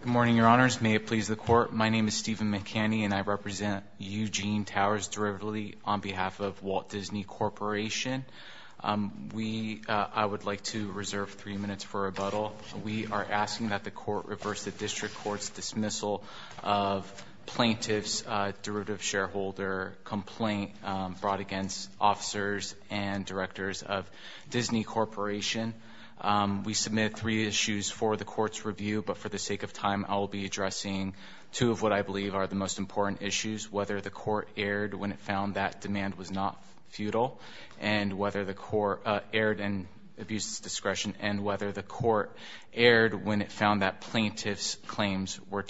Good morning, Your Honors. May it please the Court, my name is Stephen McCanny and I represent Eugene Towers derivatively on behalf of Walt Disney Corporation. We, I would like to reserve three minutes for rebuttal. We are asking that the Court reverse the District Court's dismissal of plaintiff's derivative shareholder complaint brought against officers and directors of Disney Corporation. We submit three issues for the Court's review, but for the sake of time I'll be addressing two of what I believe are the most important issues, whether the Court erred when it found that demand was not futile and whether the Court erred in abuse discretion and whether the Court erred when it found that plaintiff's claims were not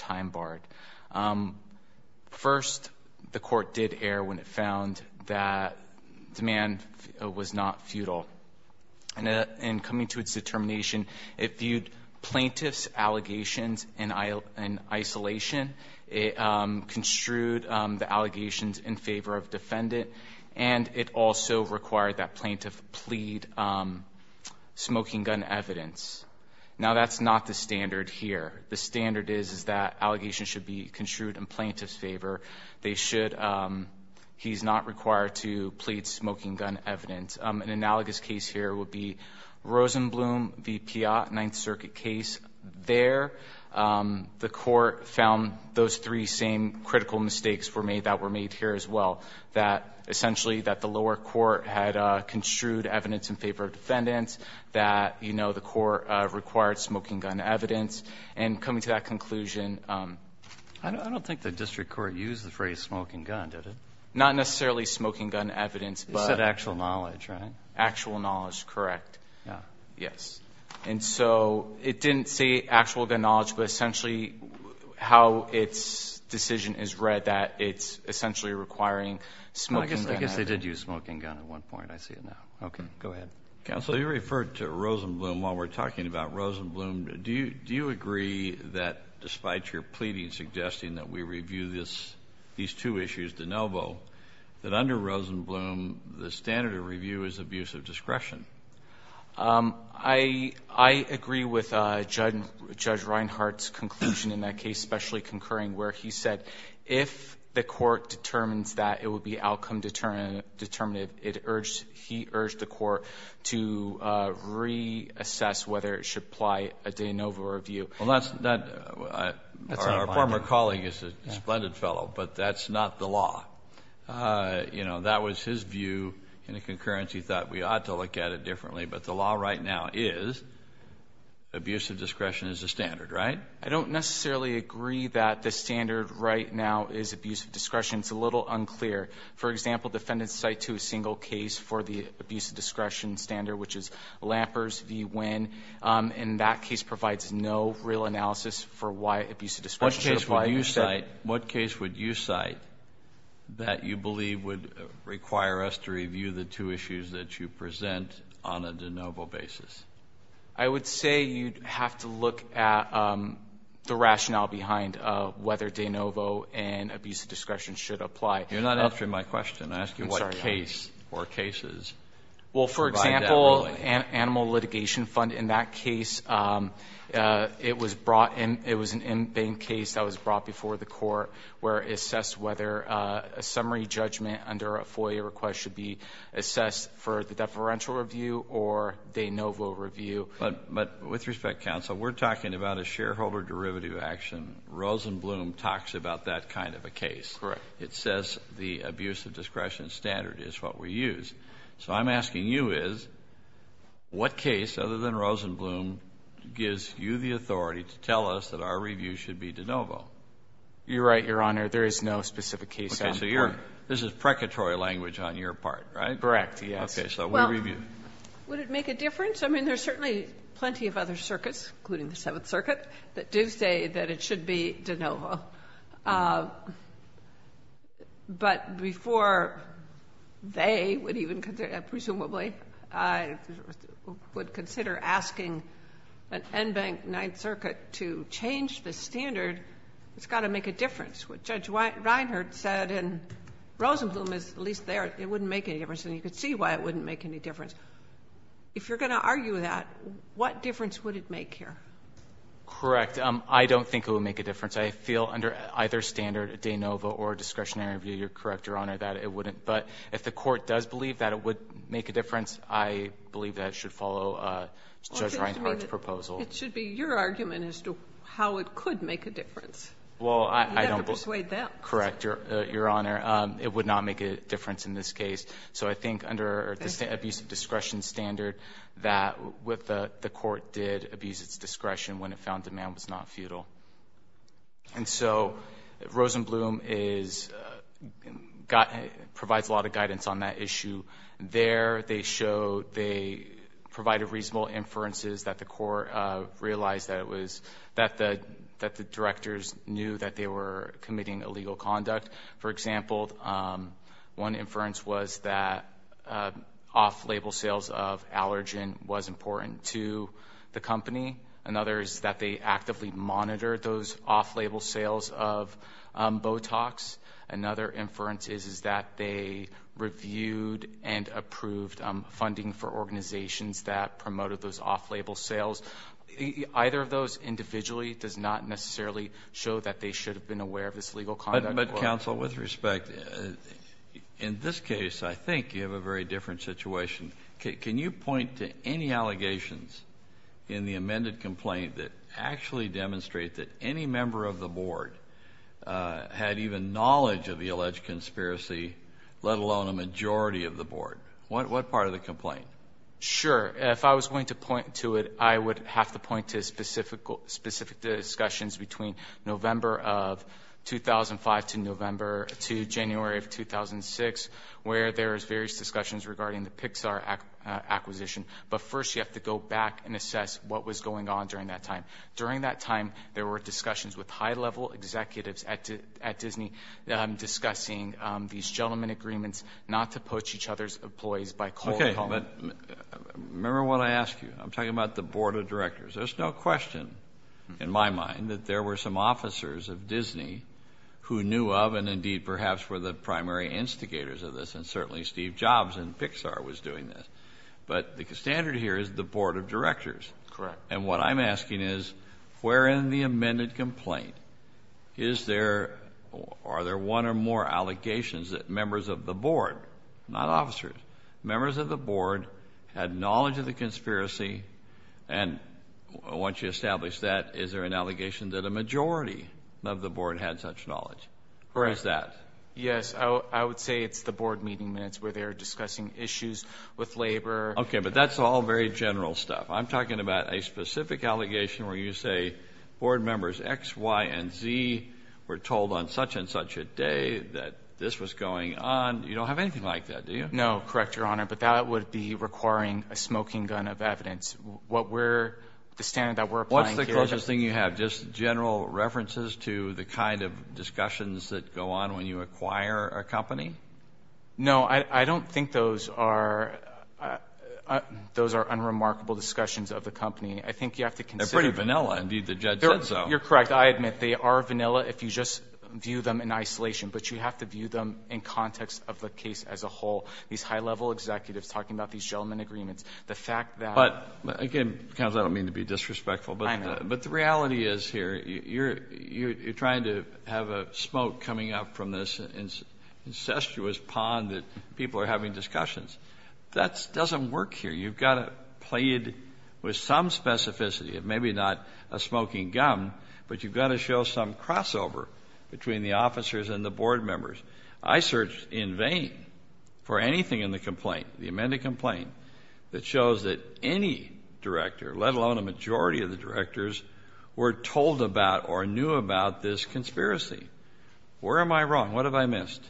futile. In coming to its determination, it viewed plaintiff's allegations in isolation, it construed the allegations in favor of defendant, and it also required that plaintiff plead smoking gun evidence. Now that's not the standard here. The standard is that allegations should be construed in plaintiff's favor. They should, he's not required to plead smoking gun evidence. An analogous case here would be Rosenblum v. Piatt, Ninth Circuit case. There, the Court found those three same critical mistakes were made that were made here as well, that essentially that the lower court had construed evidence in favor of defendants, that you know, the Court required smoking gun evidence. And coming to that conclusion, I don't think the District Court used the phrase smoking gun, did it? Not necessarily smoking gun evidence. Except actual knowledge, right? Actual knowledge, correct. Yeah. Yes. And so it didn't say actual gun knowledge, but essentially how its decision is read that it's essentially requiring smoking gun evidence. I guess they did use smoking gun at one point. I see it now. Okay. Go ahead. Counsel, you referred to Rosenblum while we're talking about Rosenblum. Do you agree that despite your pleading, suggesting that we review this, these two issues, de novo, that under Rosenblum, the standard of review is abuse of discretion? I agree with Judge Reinhart's conclusion in that case, specially concurring where he said if the Court determines that, it would be outcome determinative. It urged, he urged the Court to reassess whether it should apply a de novo review. Well, that's not, our former colleague is a splendid fellow, but that's not the law. You know, that was his view in a concurrence. He thought we ought to look at it differently. But the law right now is abuse of discretion is the standard, right? I don't necessarily agree that the standard right now is abuse of discretion. It's a little unclear. For example, defendants cite to a single case for the abuse of discretion standard, which is Lampers v. Winn. And that case provides no real analysis for why abuse of discretion should apply. What case would you cite that you believe would require us to review the two issues that you present on a de novo basis? I would say you'd have to look at the rationale behind whether de novo and abuse of discretion should apply. You're not answering my question. I'm asking what case or cases. Well, for example, an animal litigation fund. In that case, it was brought in, it was an in-bank case that was brought before the Court where it assessed whether a summary judgment under a FOIA request should be assessed for the deferential review or de novo review. But with respect, counsel, we're talking about a shareholder derivative action. Rosenblum talks about that kind of a case. Correct. It says the abuse of discretion standard is what we use. So I'm asking you is, what case, other than Rosenblum, gives you the authority to tell us that our review should be de novo? You're right, Your Honor. There is no specific case on the part. Okay. So you're — this is precatory language on your part, right? Correct, yes. Okay. So we'll review. Well, would it make a difference? I mean, there's certainly plenty of other circuits, including the Seventh Circuit, that do say that it should be de novo. But before they would even consider — presumably would consider asking an in-bank Ninth Circuit to change the standard, it's got to make a difference. What Judge Reinhardt said in Rosenblum is at least there, it wouldn't make any difference. And you can see why it wouldn't make any difference. If you're going to argue that, what difference would it make here? Correct. I don't think it would make a difference. I feel under either standard, de novo or discretionary review, you're correct, Your Honor, that it wouldn't. But if the court does believe that it would make a difference, I believe that it should follow Judge Reinhardt's proposal. It should be your argument as to how it could make a difference. You have to persuade them. Well, I don't — correct, Your Honor. It would not make a difference in this case. So I think under the abuse of discretion standard, that what the court did abuse its discretion when it found demand was not futile. And so Rosenblum is — provides a lot of guidance on that issue. There, they showed — they provided reasonable inferences that the court realized that it was — that the directors knew that they were committing illegal conduct. For example, one inference was that off-label sales of allergen was important to the company. Another is that they actively monitored those off-label sales of Botox. Another inference is that they reviewed and approved funding for organizations that promoted those off-label sales. Either of those individually does not necessarily show that they should have been aware of this illegal conduct. But, Counsel, with respect, in this case, I think you have a very different situation. Can you point to any allegations in the amended complaint that actually demonstrate that any member of the board had even knowledge of the alleged conspiracy, let alone a majority of the board? What part of the complaint? Sure. If I was going to point to it, I would have to point to specific discussions between November of 2005 to November — to January of 2006, where there was various discussions regarding the Pixar acquisition. But first, you have to go back and assess what was going on during that time. During that time, there were discussions with high-level executives at Disney discussing these gentlemen agreements not to poach each other's employees by cold call. Okay. But remember what I asked you. I'm talking about the board of directors. There's no question, in my mind, that there were some officers of Disney who knew of and indeed perhaps were the primary instigators of this. And certainly Steve Jobs in Pixar was doing this. But the standard here is the board of directors. Correct. And what I'm asking is, where in the amended complaint is there — are there one or more allegations that members of the board — not officers — members of the board had knowledge of the conspiracy? And once you establish that, is there an allegation that a majority of the board had such knowledge? Or is that — Yes. I would say it's the board meeting minutes where they're discussing issues with labor. Okay. But that's all very general stuff. I'm talking about a specific allegation where you say board members X, Y, and Z were told on such and such a day that this was going on. You don't have anything like that, do you? No. Correct, Your Honor. But that would be requiring a smoking gun of evidence. What we're — the standard that we're applying here — What's the closest thing you have? Just general references to the kind of discussions that go on when you acquire a company? No. I don't think those are — those are unremarkable discussions of the company. I think you have to consider — They're pretty vanilla, indeed. The judge said so. You're correct. I admit they are vanilla if you just view them in isolation. But you have to view them in context of the case as a whole. These high-level executives talking about these settlement agreements, the fact that — But, again, counsel, I don't mean to be disrespectful, but the reality is here, you're trying to have a smoke coming out from this incestuous pond that people are having discussions. That doesn't work here. You've got to play it with some specificity, maybe not a smoking gun, but you've got to show some crossover between the officers and the board members. I searched in vain for anything in the complaint, the amended complaint, that shows that any director, let alone a majority of the directors, were told about or knew about this conspiracy. Where am I wrong? What have I missed?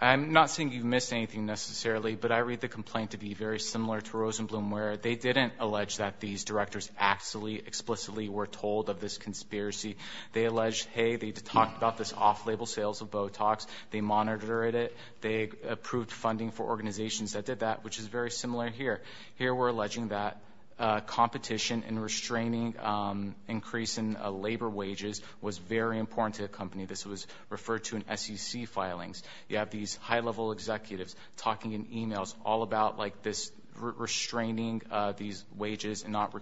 I'm not saying you've missed anything, necessarily, but I read the complaint to be very similar to Rosenblum, where they didn't allege that these directors actually, explicitly were told of this conspiracy. They alleged, hey, they talked about this off-label sales of Botox, they monitored it, they approved funding for organizations that did that, which is very similar here. Here, we're alleging that competition and restraining increase in labor wages was very important to the company. This was referred to in SEC filings. You have these high-level executives talking in emails all about restraining these wages and not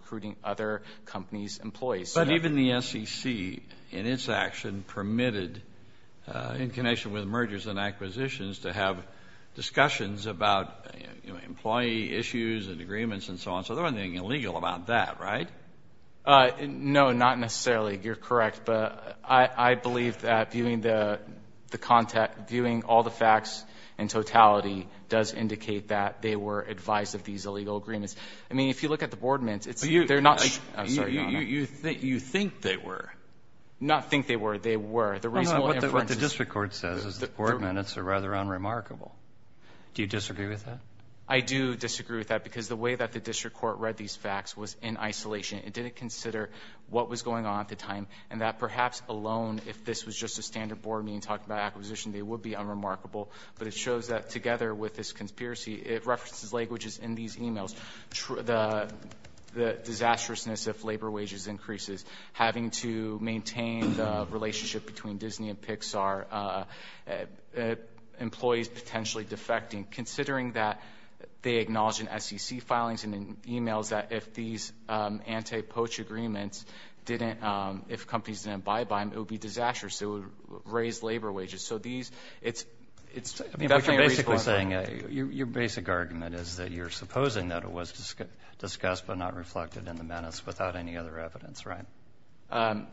employees. But even the SEC, in its action, permitted, in connection with mergers and acquisitions, to have discussions about employee issues and agreements and so on. So they weren't doing anything illegal about that, right? No, not necessarily. You're correct. But I believe that viewing all the facts in totality does indicate that they were advised of these illegal agreements. I mean, if you look at the board members, they're not... I'm sorry, Your Honor. You think they were? Not think they were. They were. The reasonable inferences... No, no. What the district court says is the board minutes are rather unremarkable. Do you disagree with that? I do disagree with that, because the way that the district court read these facts was in isolation. It didn't consider what was going on at the time, and that perhaps alone, if this was just a standard board meeting talking about acquisition, they would be unremarkable. But it shows that, together with this conspiracy, it references languages in these emails. The disastrousness if labor wages increases, having to maintain the relationship between Disney and Pixar, employees potentially defecting, considering that they acknowledge in SEC filings and in emails that if these anti-poach agreements didn't, if companies didn't buy by them, it would be disastrous. It would raise labor wages. So these, it's definitely a reasonable argument. Your basic argument is that you're supposing that it was discussed but not reflected in the minutes without any other evidence, right?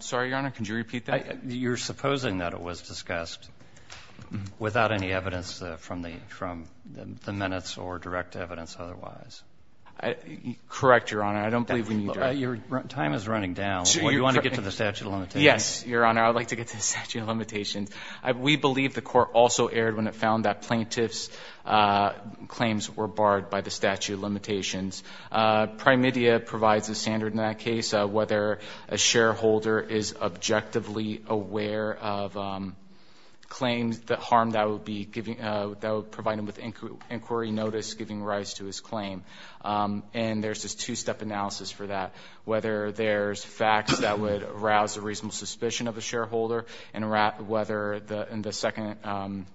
Sorry, Your Honor. Could you repeat that? You're supposing that it was discussed without any evidence from the minutes or direct evidence otherwise. Correct, Your Honor. I don't believe we need to... Time is running down. Do you want to get to the statute of limitations? Yes, Your Honor. I would like to get to the statute of limitations. We believe the court also erred when it found that plaintiff's claims were barred by the statute of limitations. Primedia provides a standard in that case of whether a shareholder is objectively aware of claims, the harm that would provide him with inquiry notice giving rise to his claim. And there's this two-step analysis for that. Whether there's facts that would arouse a claim. The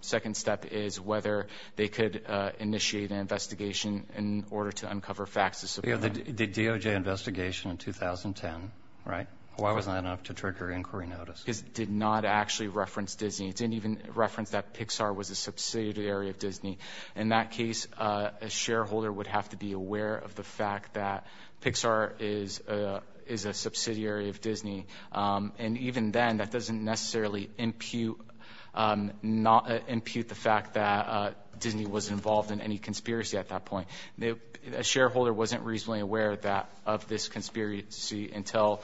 second step is whether they could initiate an investigation in order to uncover facts to support that. The DOJ investigation in 2010, right? Why wasn't that enough to trigger inquiry notice? Because it did not actually reference Disney. It didn't even reference that Pixar was a subsidiary of Disney. In that case, a shareholder would have to be aware of the fact that Pixar is a subsidiary of Disney. And even then, that doesn't necessarily impute the fact that Disney was involved in any conspiracy at that point. A shareholder wasn't reasonably aware of this conspiracy until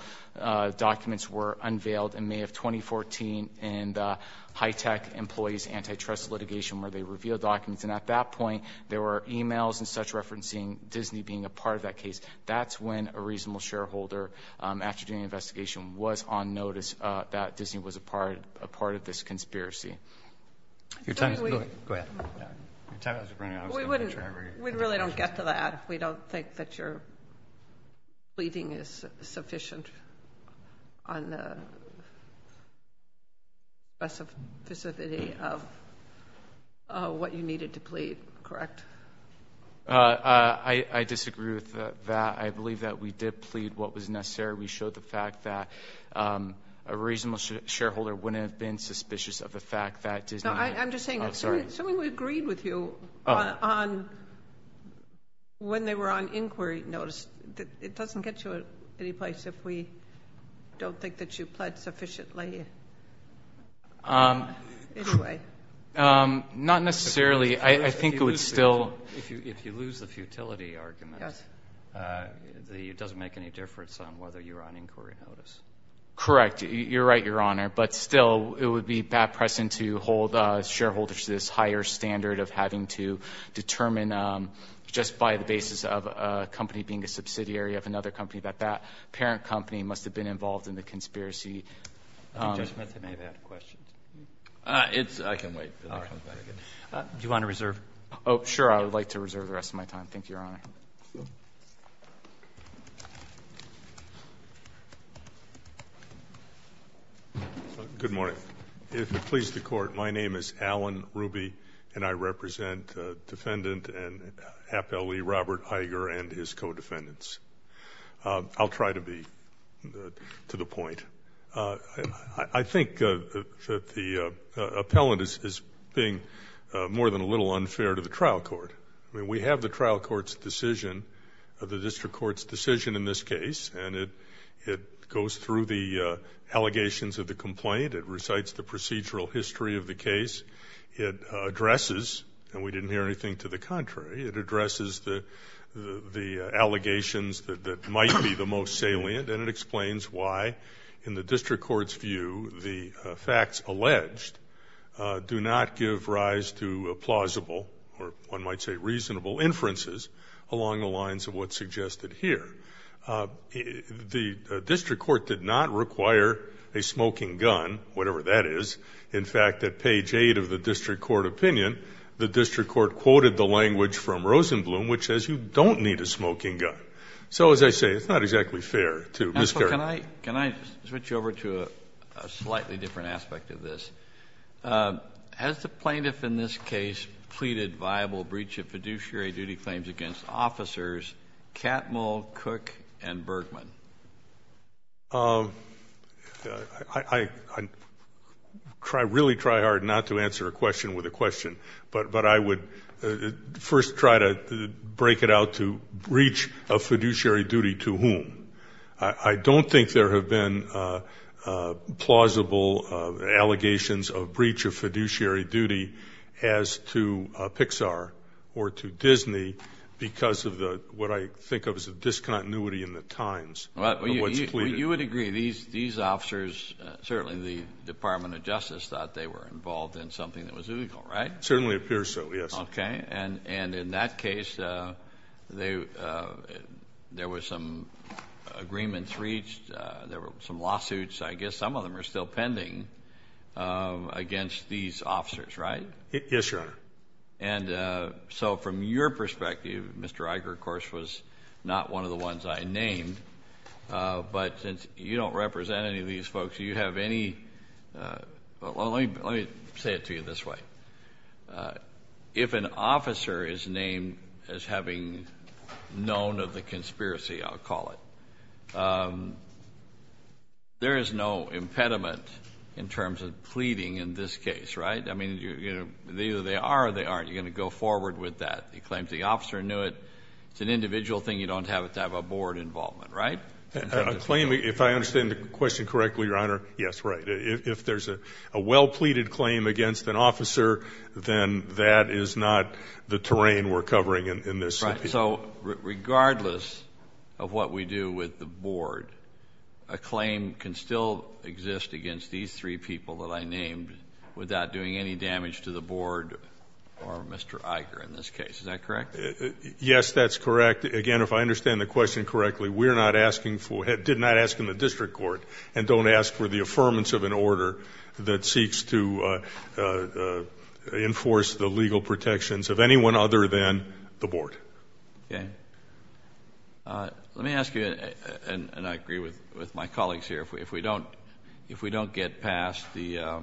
documents were unveiled in May of 2014 in the HITECH employees' antitrust litigation where they revealed documents. And at that point, there were emails and such referencing Disney being a part of that case. That's when a reasonable shareholder, after doing an investigation, was on notice that Disney was a part of this conspiracy. We really don't get to that. We don't think that your pleading is sufficient on the specificity of what you needed to plead, correct? I disagree with that. I believe that we did plead what was necessary. We showed the fact that a reasonable shareholder wouldn't have been suspicious of the fact that Disney... I'm just saying, assuming we agreed with you when they were on inquiry notice, it doesn't get you any place if we don't think that you pled sufficiently anyway. Not necessarily. I think it would still... If you lose the futility argument, it doesn't make any difference on whether you're on inquiry notice. Correct. You're right, Your Honor. But still, it would be bad precedent to hold shareholders to this higher standard of having to determine just by the basis of a company being a subsidiary of another company that that parent company must have been involved in the conspiracy. I think Judge Metzen may have had a question. I can wait. All right. Do you want to reserve? Oh, sure. I would like to reserve the rest of my time. Thank you, Your Honor. Good morning. If it pleases the Court, my name is Alan Ruby, and I represent Defendant Appellee Robert Iger and his co-defendants. I'll try to be to the point. I think that the appellant is being more than a little unfair to the trial court. I mean, we have the trial court's decision, the district court's decision in this case, and it goes through the allegations of the complaint. It recites the procedural history of the case. It addresses, and we didn't hear anything to the contrary, it addresses the allegations that might be the most salient, and it explains why, in the district court's view, the facts alleged do not give rise to plausible, or one might say reasonable, inferences along the lines of what's suggested here. The district court did not require a smoking gun, whatever that is. In fact, at page 8 of the district court opinion, the district court quoted the language from Rosenblum, which says you don't need a smoking gun. So, as I say, it's not exactly fair to Ms. Carroll. Counsel, can I switch you over to a slightly different aspect of this? Has the plaintiff in this case pleaded viable breach of fiduciary duty claims against officers Catmull, Cook, and Bergman? I really try hard not to answer a question with a question, but I would first try to break it out to breach of fiduciary duty to whom? I don't think there have been plausible allegations of breach of fiduciary duty as to Pixar or to Disney because of what I think of as a discontinuity in the times of what's pleaded. You would agree these officers, certainly the Department of Justice, thought they were involved in something that was illegal, right? It certainly appears so, yes. Okay. And in that case, there were some agreements reached, there were some lawsuits, I guess some of them are still pending, against these officers, right? Yes, Your Honor. And so from your perspective, Mr. Iger, of course, was not one of the ones I named, but since you don't represent any of these folks, you have any – let me say it to you this way. If an officer is named as having known of the conspiracy, I'll call it, there is no impediment in terms of pleading in this case, right? I mean, either they are or they aren't. You're going to go forward with that. You claim the officer knew it. It's an individual thing. You don't have it to have a board involvement, right? A claim, if I understand the question correctly, Your Honor, yes, right. If there's a well-pleaded claim against an officer, then that is not the terrain we're covering in this case. So regardless of what we do with the board, a claim can still exist against these three people that I named without doing any damage to the board or Mr. Iger in this case. Is that correct? Yes, that's correct. Again, if I understand the question correctly, we're not asking for – did not ask in the district court and don't ask for the affirmance of an order that seeks to enforce the legal protections of anyone other than the board. Okay. Let me ask you, and I agree with my colleagues here, if we don't get past the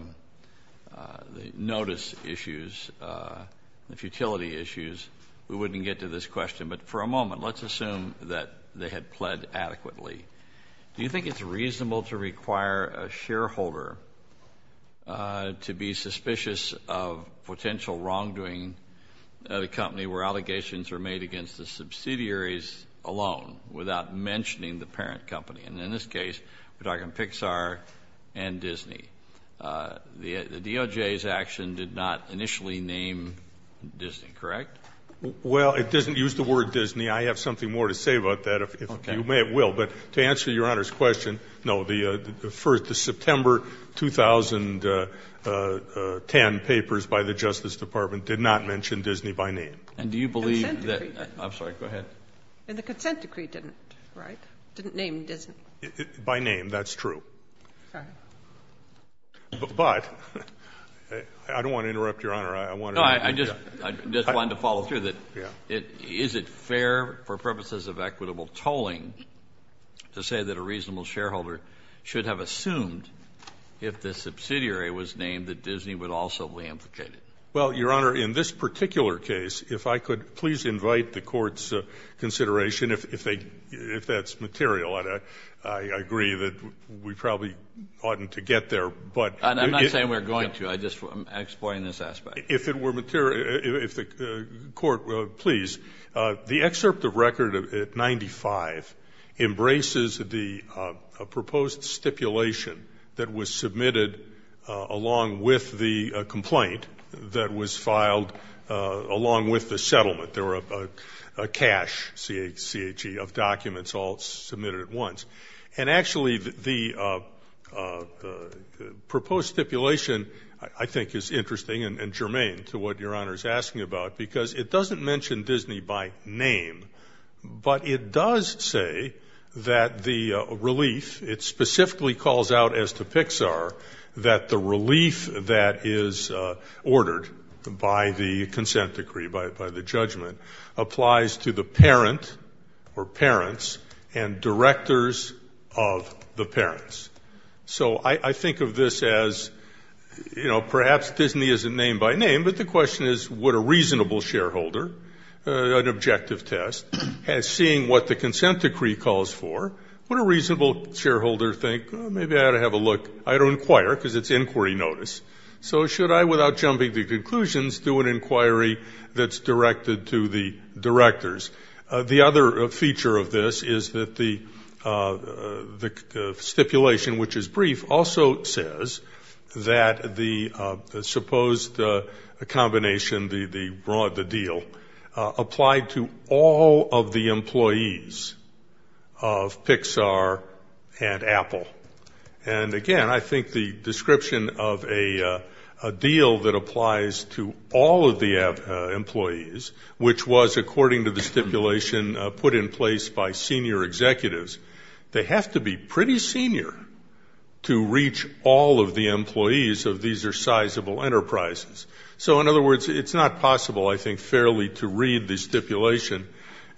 notice issues, the futility issues, we wouldn't get to this question. But for a moment, let's assume that they had pled adequately. Do you think it's reasonable to require a shareholder to be suspicious of potential wrongdoing of a company where allegations are made against the subsidiaries alone without mentioning the parent company? And in this case, we're talking Pixar and Disney. The DOJ's action did not initially name Disney, correct? Well, it doesn't use the word Disney. I have something more to say about that, if you may. It will. But to answer Your Honor's question, no, the September 2010 papers by the Justice Department did not mention Disney by name. And do you believe that – Consent decree. I'm sorry. Go ahead. And the consent decree didn't, right? Didn't name Disney. By name. That's true. Sorry. But I don't want to interrupt Your Honor. I just wanted to follow through. Is it fair for purposes of equitable tolling to say that a reasonable shareholder should have assumed if the subsidiary was named that Disney would also be implicated? Well, Your Honor, in this particular case, if I could please invite the Court's consideration if that's material. And I agree that we probably oughtn't to get there. I'm not saying we're going to. I'm just exploring this aspect. If it were material – if the Court would please. The excerpt of record at 95 embraces the proposed stipulation that was submitted along with the complaint that was filed along with the settlement. There were a cache, C-H-E, of documents all submitted at once. And, actually, the proposed stipulation, I think, is interesting and germane to what Your Honor is asking about because it doesn't mention Disney by name, but it does say that the relief – it specifically calls out, as to Pixar, that the relief that is ordered by the consent decree, by the judgment, applies to the parent or parents and directors of the parents. So I think of this as, you know, perhaps Disney isn't named by name, but the question is would a reasonable shareholder, an objective test, seeing what the consent decree calls for, would a reasonable shareholder think, maybe I ought to have a look, I ought to inquire because it's inquiry notice. So should I, without jumping to conclusions, do an inquiry that's directed to the directors? The other feature of this is that the stipulation, which is brief, also says that the supposed combination, the deal, applied to all of the employees of Pixar and Apple. And, again, I think the description of a deal that applies to all of the employees, which was, according to the stipulation, put in place by senior executives, they have to be pretty senior to reach all of the employees of these sizable enterprises. So, in other words, it's not possible, I think, fairly to read the stipulation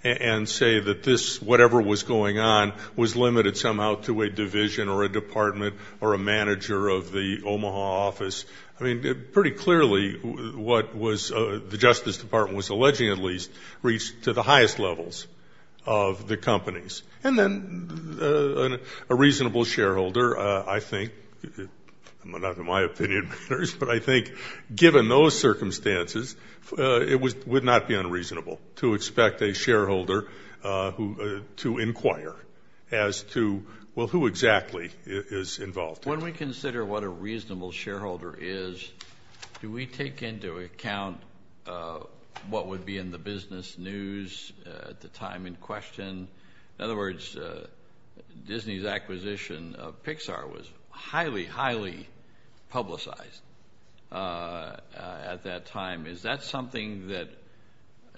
and say that this, whatever was going on, was limited somehow to a division or a department or a manager of the Omaha office. I mean, pretty clearly what the Justice Department was alleging, at least, reached to the highest levels of the companies. And then a reasonable shareholder, I think, not in my opinion, but I think given those circumstances, it would not be unreasonable to expect a shareholder to inquire as to, well, who exactly is involved. When we consider what a reasonable shareholder is, do we take into account what would be in the business news at the time in question? In other words, Disney's acquisition of Pixar was highly, highly publicized at that time. Is that something that,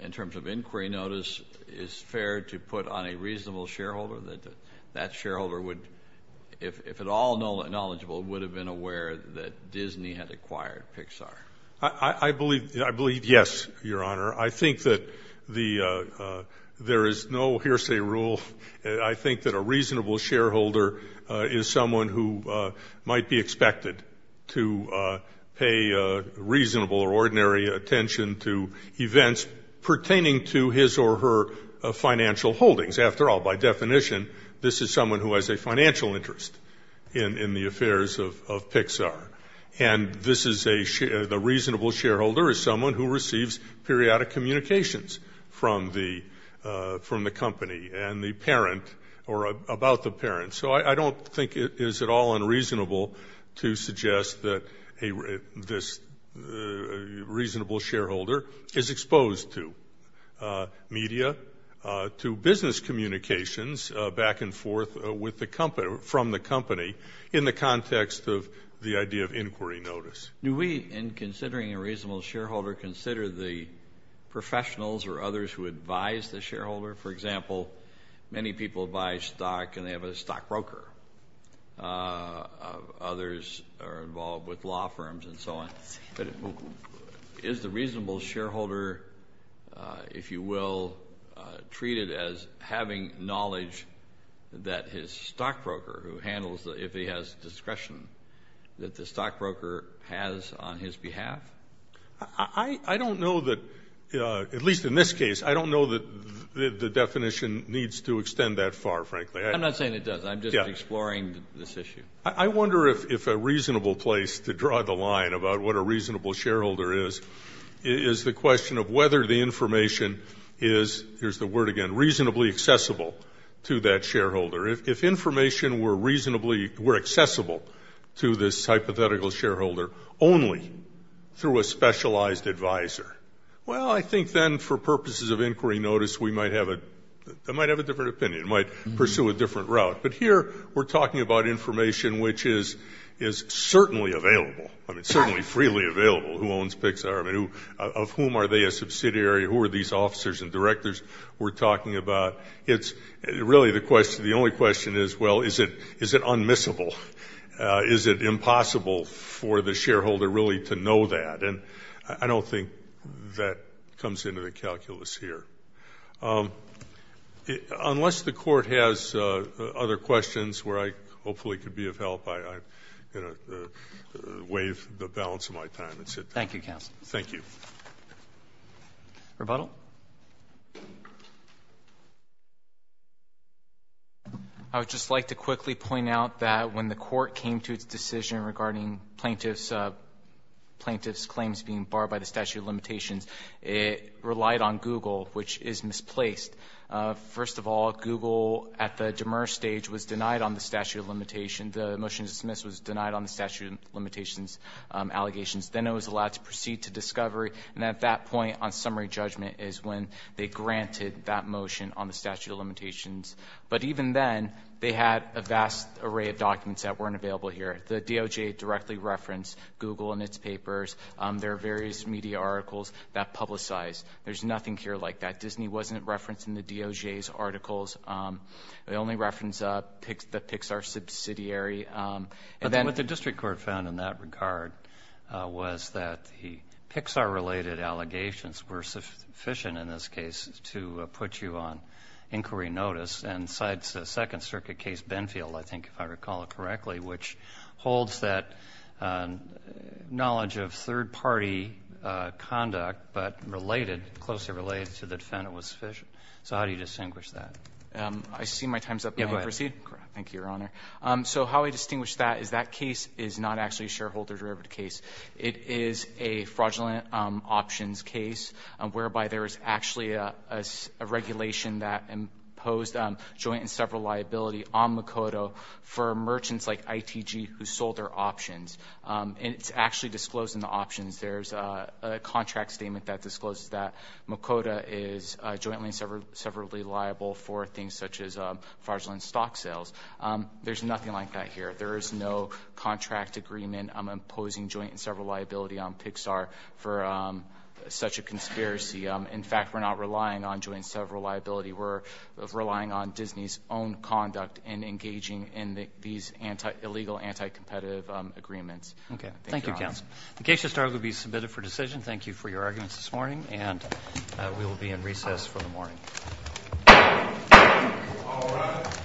in terms of inquiry notice, is fair to put on a reasonable shareholder, that that shareholder would, if at all knowledgeable, would have been aware that Disney had acquired Pixar? I believe yes, Your Honor. I think that there is no hearsay rule. I think that a reasonable shareholder is someone who might be expected to pay reasonable or ordinary attention to events pertaining to his or her financial holdings. After all, by definition, this is someone who has a financial interest in the affairs of Pixar. And this is a reasonable shareholder is someone who receives periodic communications from the company and the parent or about the parent. So I don't think it is at all unreasonable to suggest that this reasonable shareholder is exposed to media, to business communications back and forth from the company in the context of the idea of inquiry notice. Do we, in considering a reasonable shareholder, consider the professionals or others who advise the shareholder? For example, many people buy stock and they have a stockbroker. Others are involved with law firms and so on. Is the reasonable shareholder, if you will, treated as having knowledge that his stockbroker, who handles if he has discretion, that the stockbroker has on his behalf? I don't know that, at least in this case, I don't know that the definition needs to extend that far, frankly. I'm not saying it doesn't. I'm just exploring this issue. I wonder if a reasonable place to draw the line about what a reasonable shareholder is, is the question of whether the information is, here's the word again, reasonably accessible to that shareholder. If information were reasonably accessible to this hypothetical shareholder only through a specialized advisor, well, I think then for purposes of inquiry notice we might have a different opinion, might pursue a different route. But here we're talking about information which is certainly available, certainly freely available. Who owns Pixar? Of whom are they a subsidiary? Who are these officers and directors we're talking about? It's really the question, the only question is, well, is it unmissable? Is it impossible for the shareholder really to know that? And I don't think that comes into the calculus here. Unless the Court has other questions where I hopefully could be of help, I, you know, waive the balance of my time. That's it. Roberts. Thank you, counsel. Thank you. Rebuttal. I would just like to quickly point out that when the Court came to its decision regarding plaintiff's claims being barred by the statute of limitations, it relied on Google, which is misplaced. First of all, Google at the demur stage was denied on the statute of limitations. The motion to dismiss was denied on the statute of limitations allegations. Then it was allowed to proceed to discovery. And at that point on summary judgment is when they granted that motion on the statute of limitations. But even then, they had a vast array of documents that weren't available here. The DOJ directly referenced Google and its papers. There are various media articles that publicize. There's nothing here like that. Disney wasn't referenced in the DOJ's articles. They only reference the Pixar subsidiary. But then what the district court found in that regard was that the Pixar-related allegations were sufficient in this case to put you on inquiry notice. And the Second Circuit case, Benfield, I think, if I recall it correctly, which holds that knowledge of third-party conduct but related, closely related to the defendant was sufficient. So how do you distinguish that? I see my time is up. May I proceed? Thank you, Your Honor. So how I distinguish that is that case is not actually a shareholder-derived case. It is a fraudulent options case whereby there is actually a regulation that imposed joint and several liability on Makoto for merchants like ITG who sold their options. And it's actually disclosed in the options. There's a contract statement that discloses that Makoto is jointly and severally liable for things such as fraudulent stock sales. There's nothing like that here. There is no contract agreement imposing joint and several liability on Pixar for such a conspiracy. In fact, we're not relying on joint and several liability. We're relying on Disney's own conduct in engaging in these illegal, anti-competitive agreements. Thank you, Your Honor. Okay. Thank you, counsel. The case has now been submitted for decision. Thank you for your arguments this morning. And we will be in recess for the morning. All rise.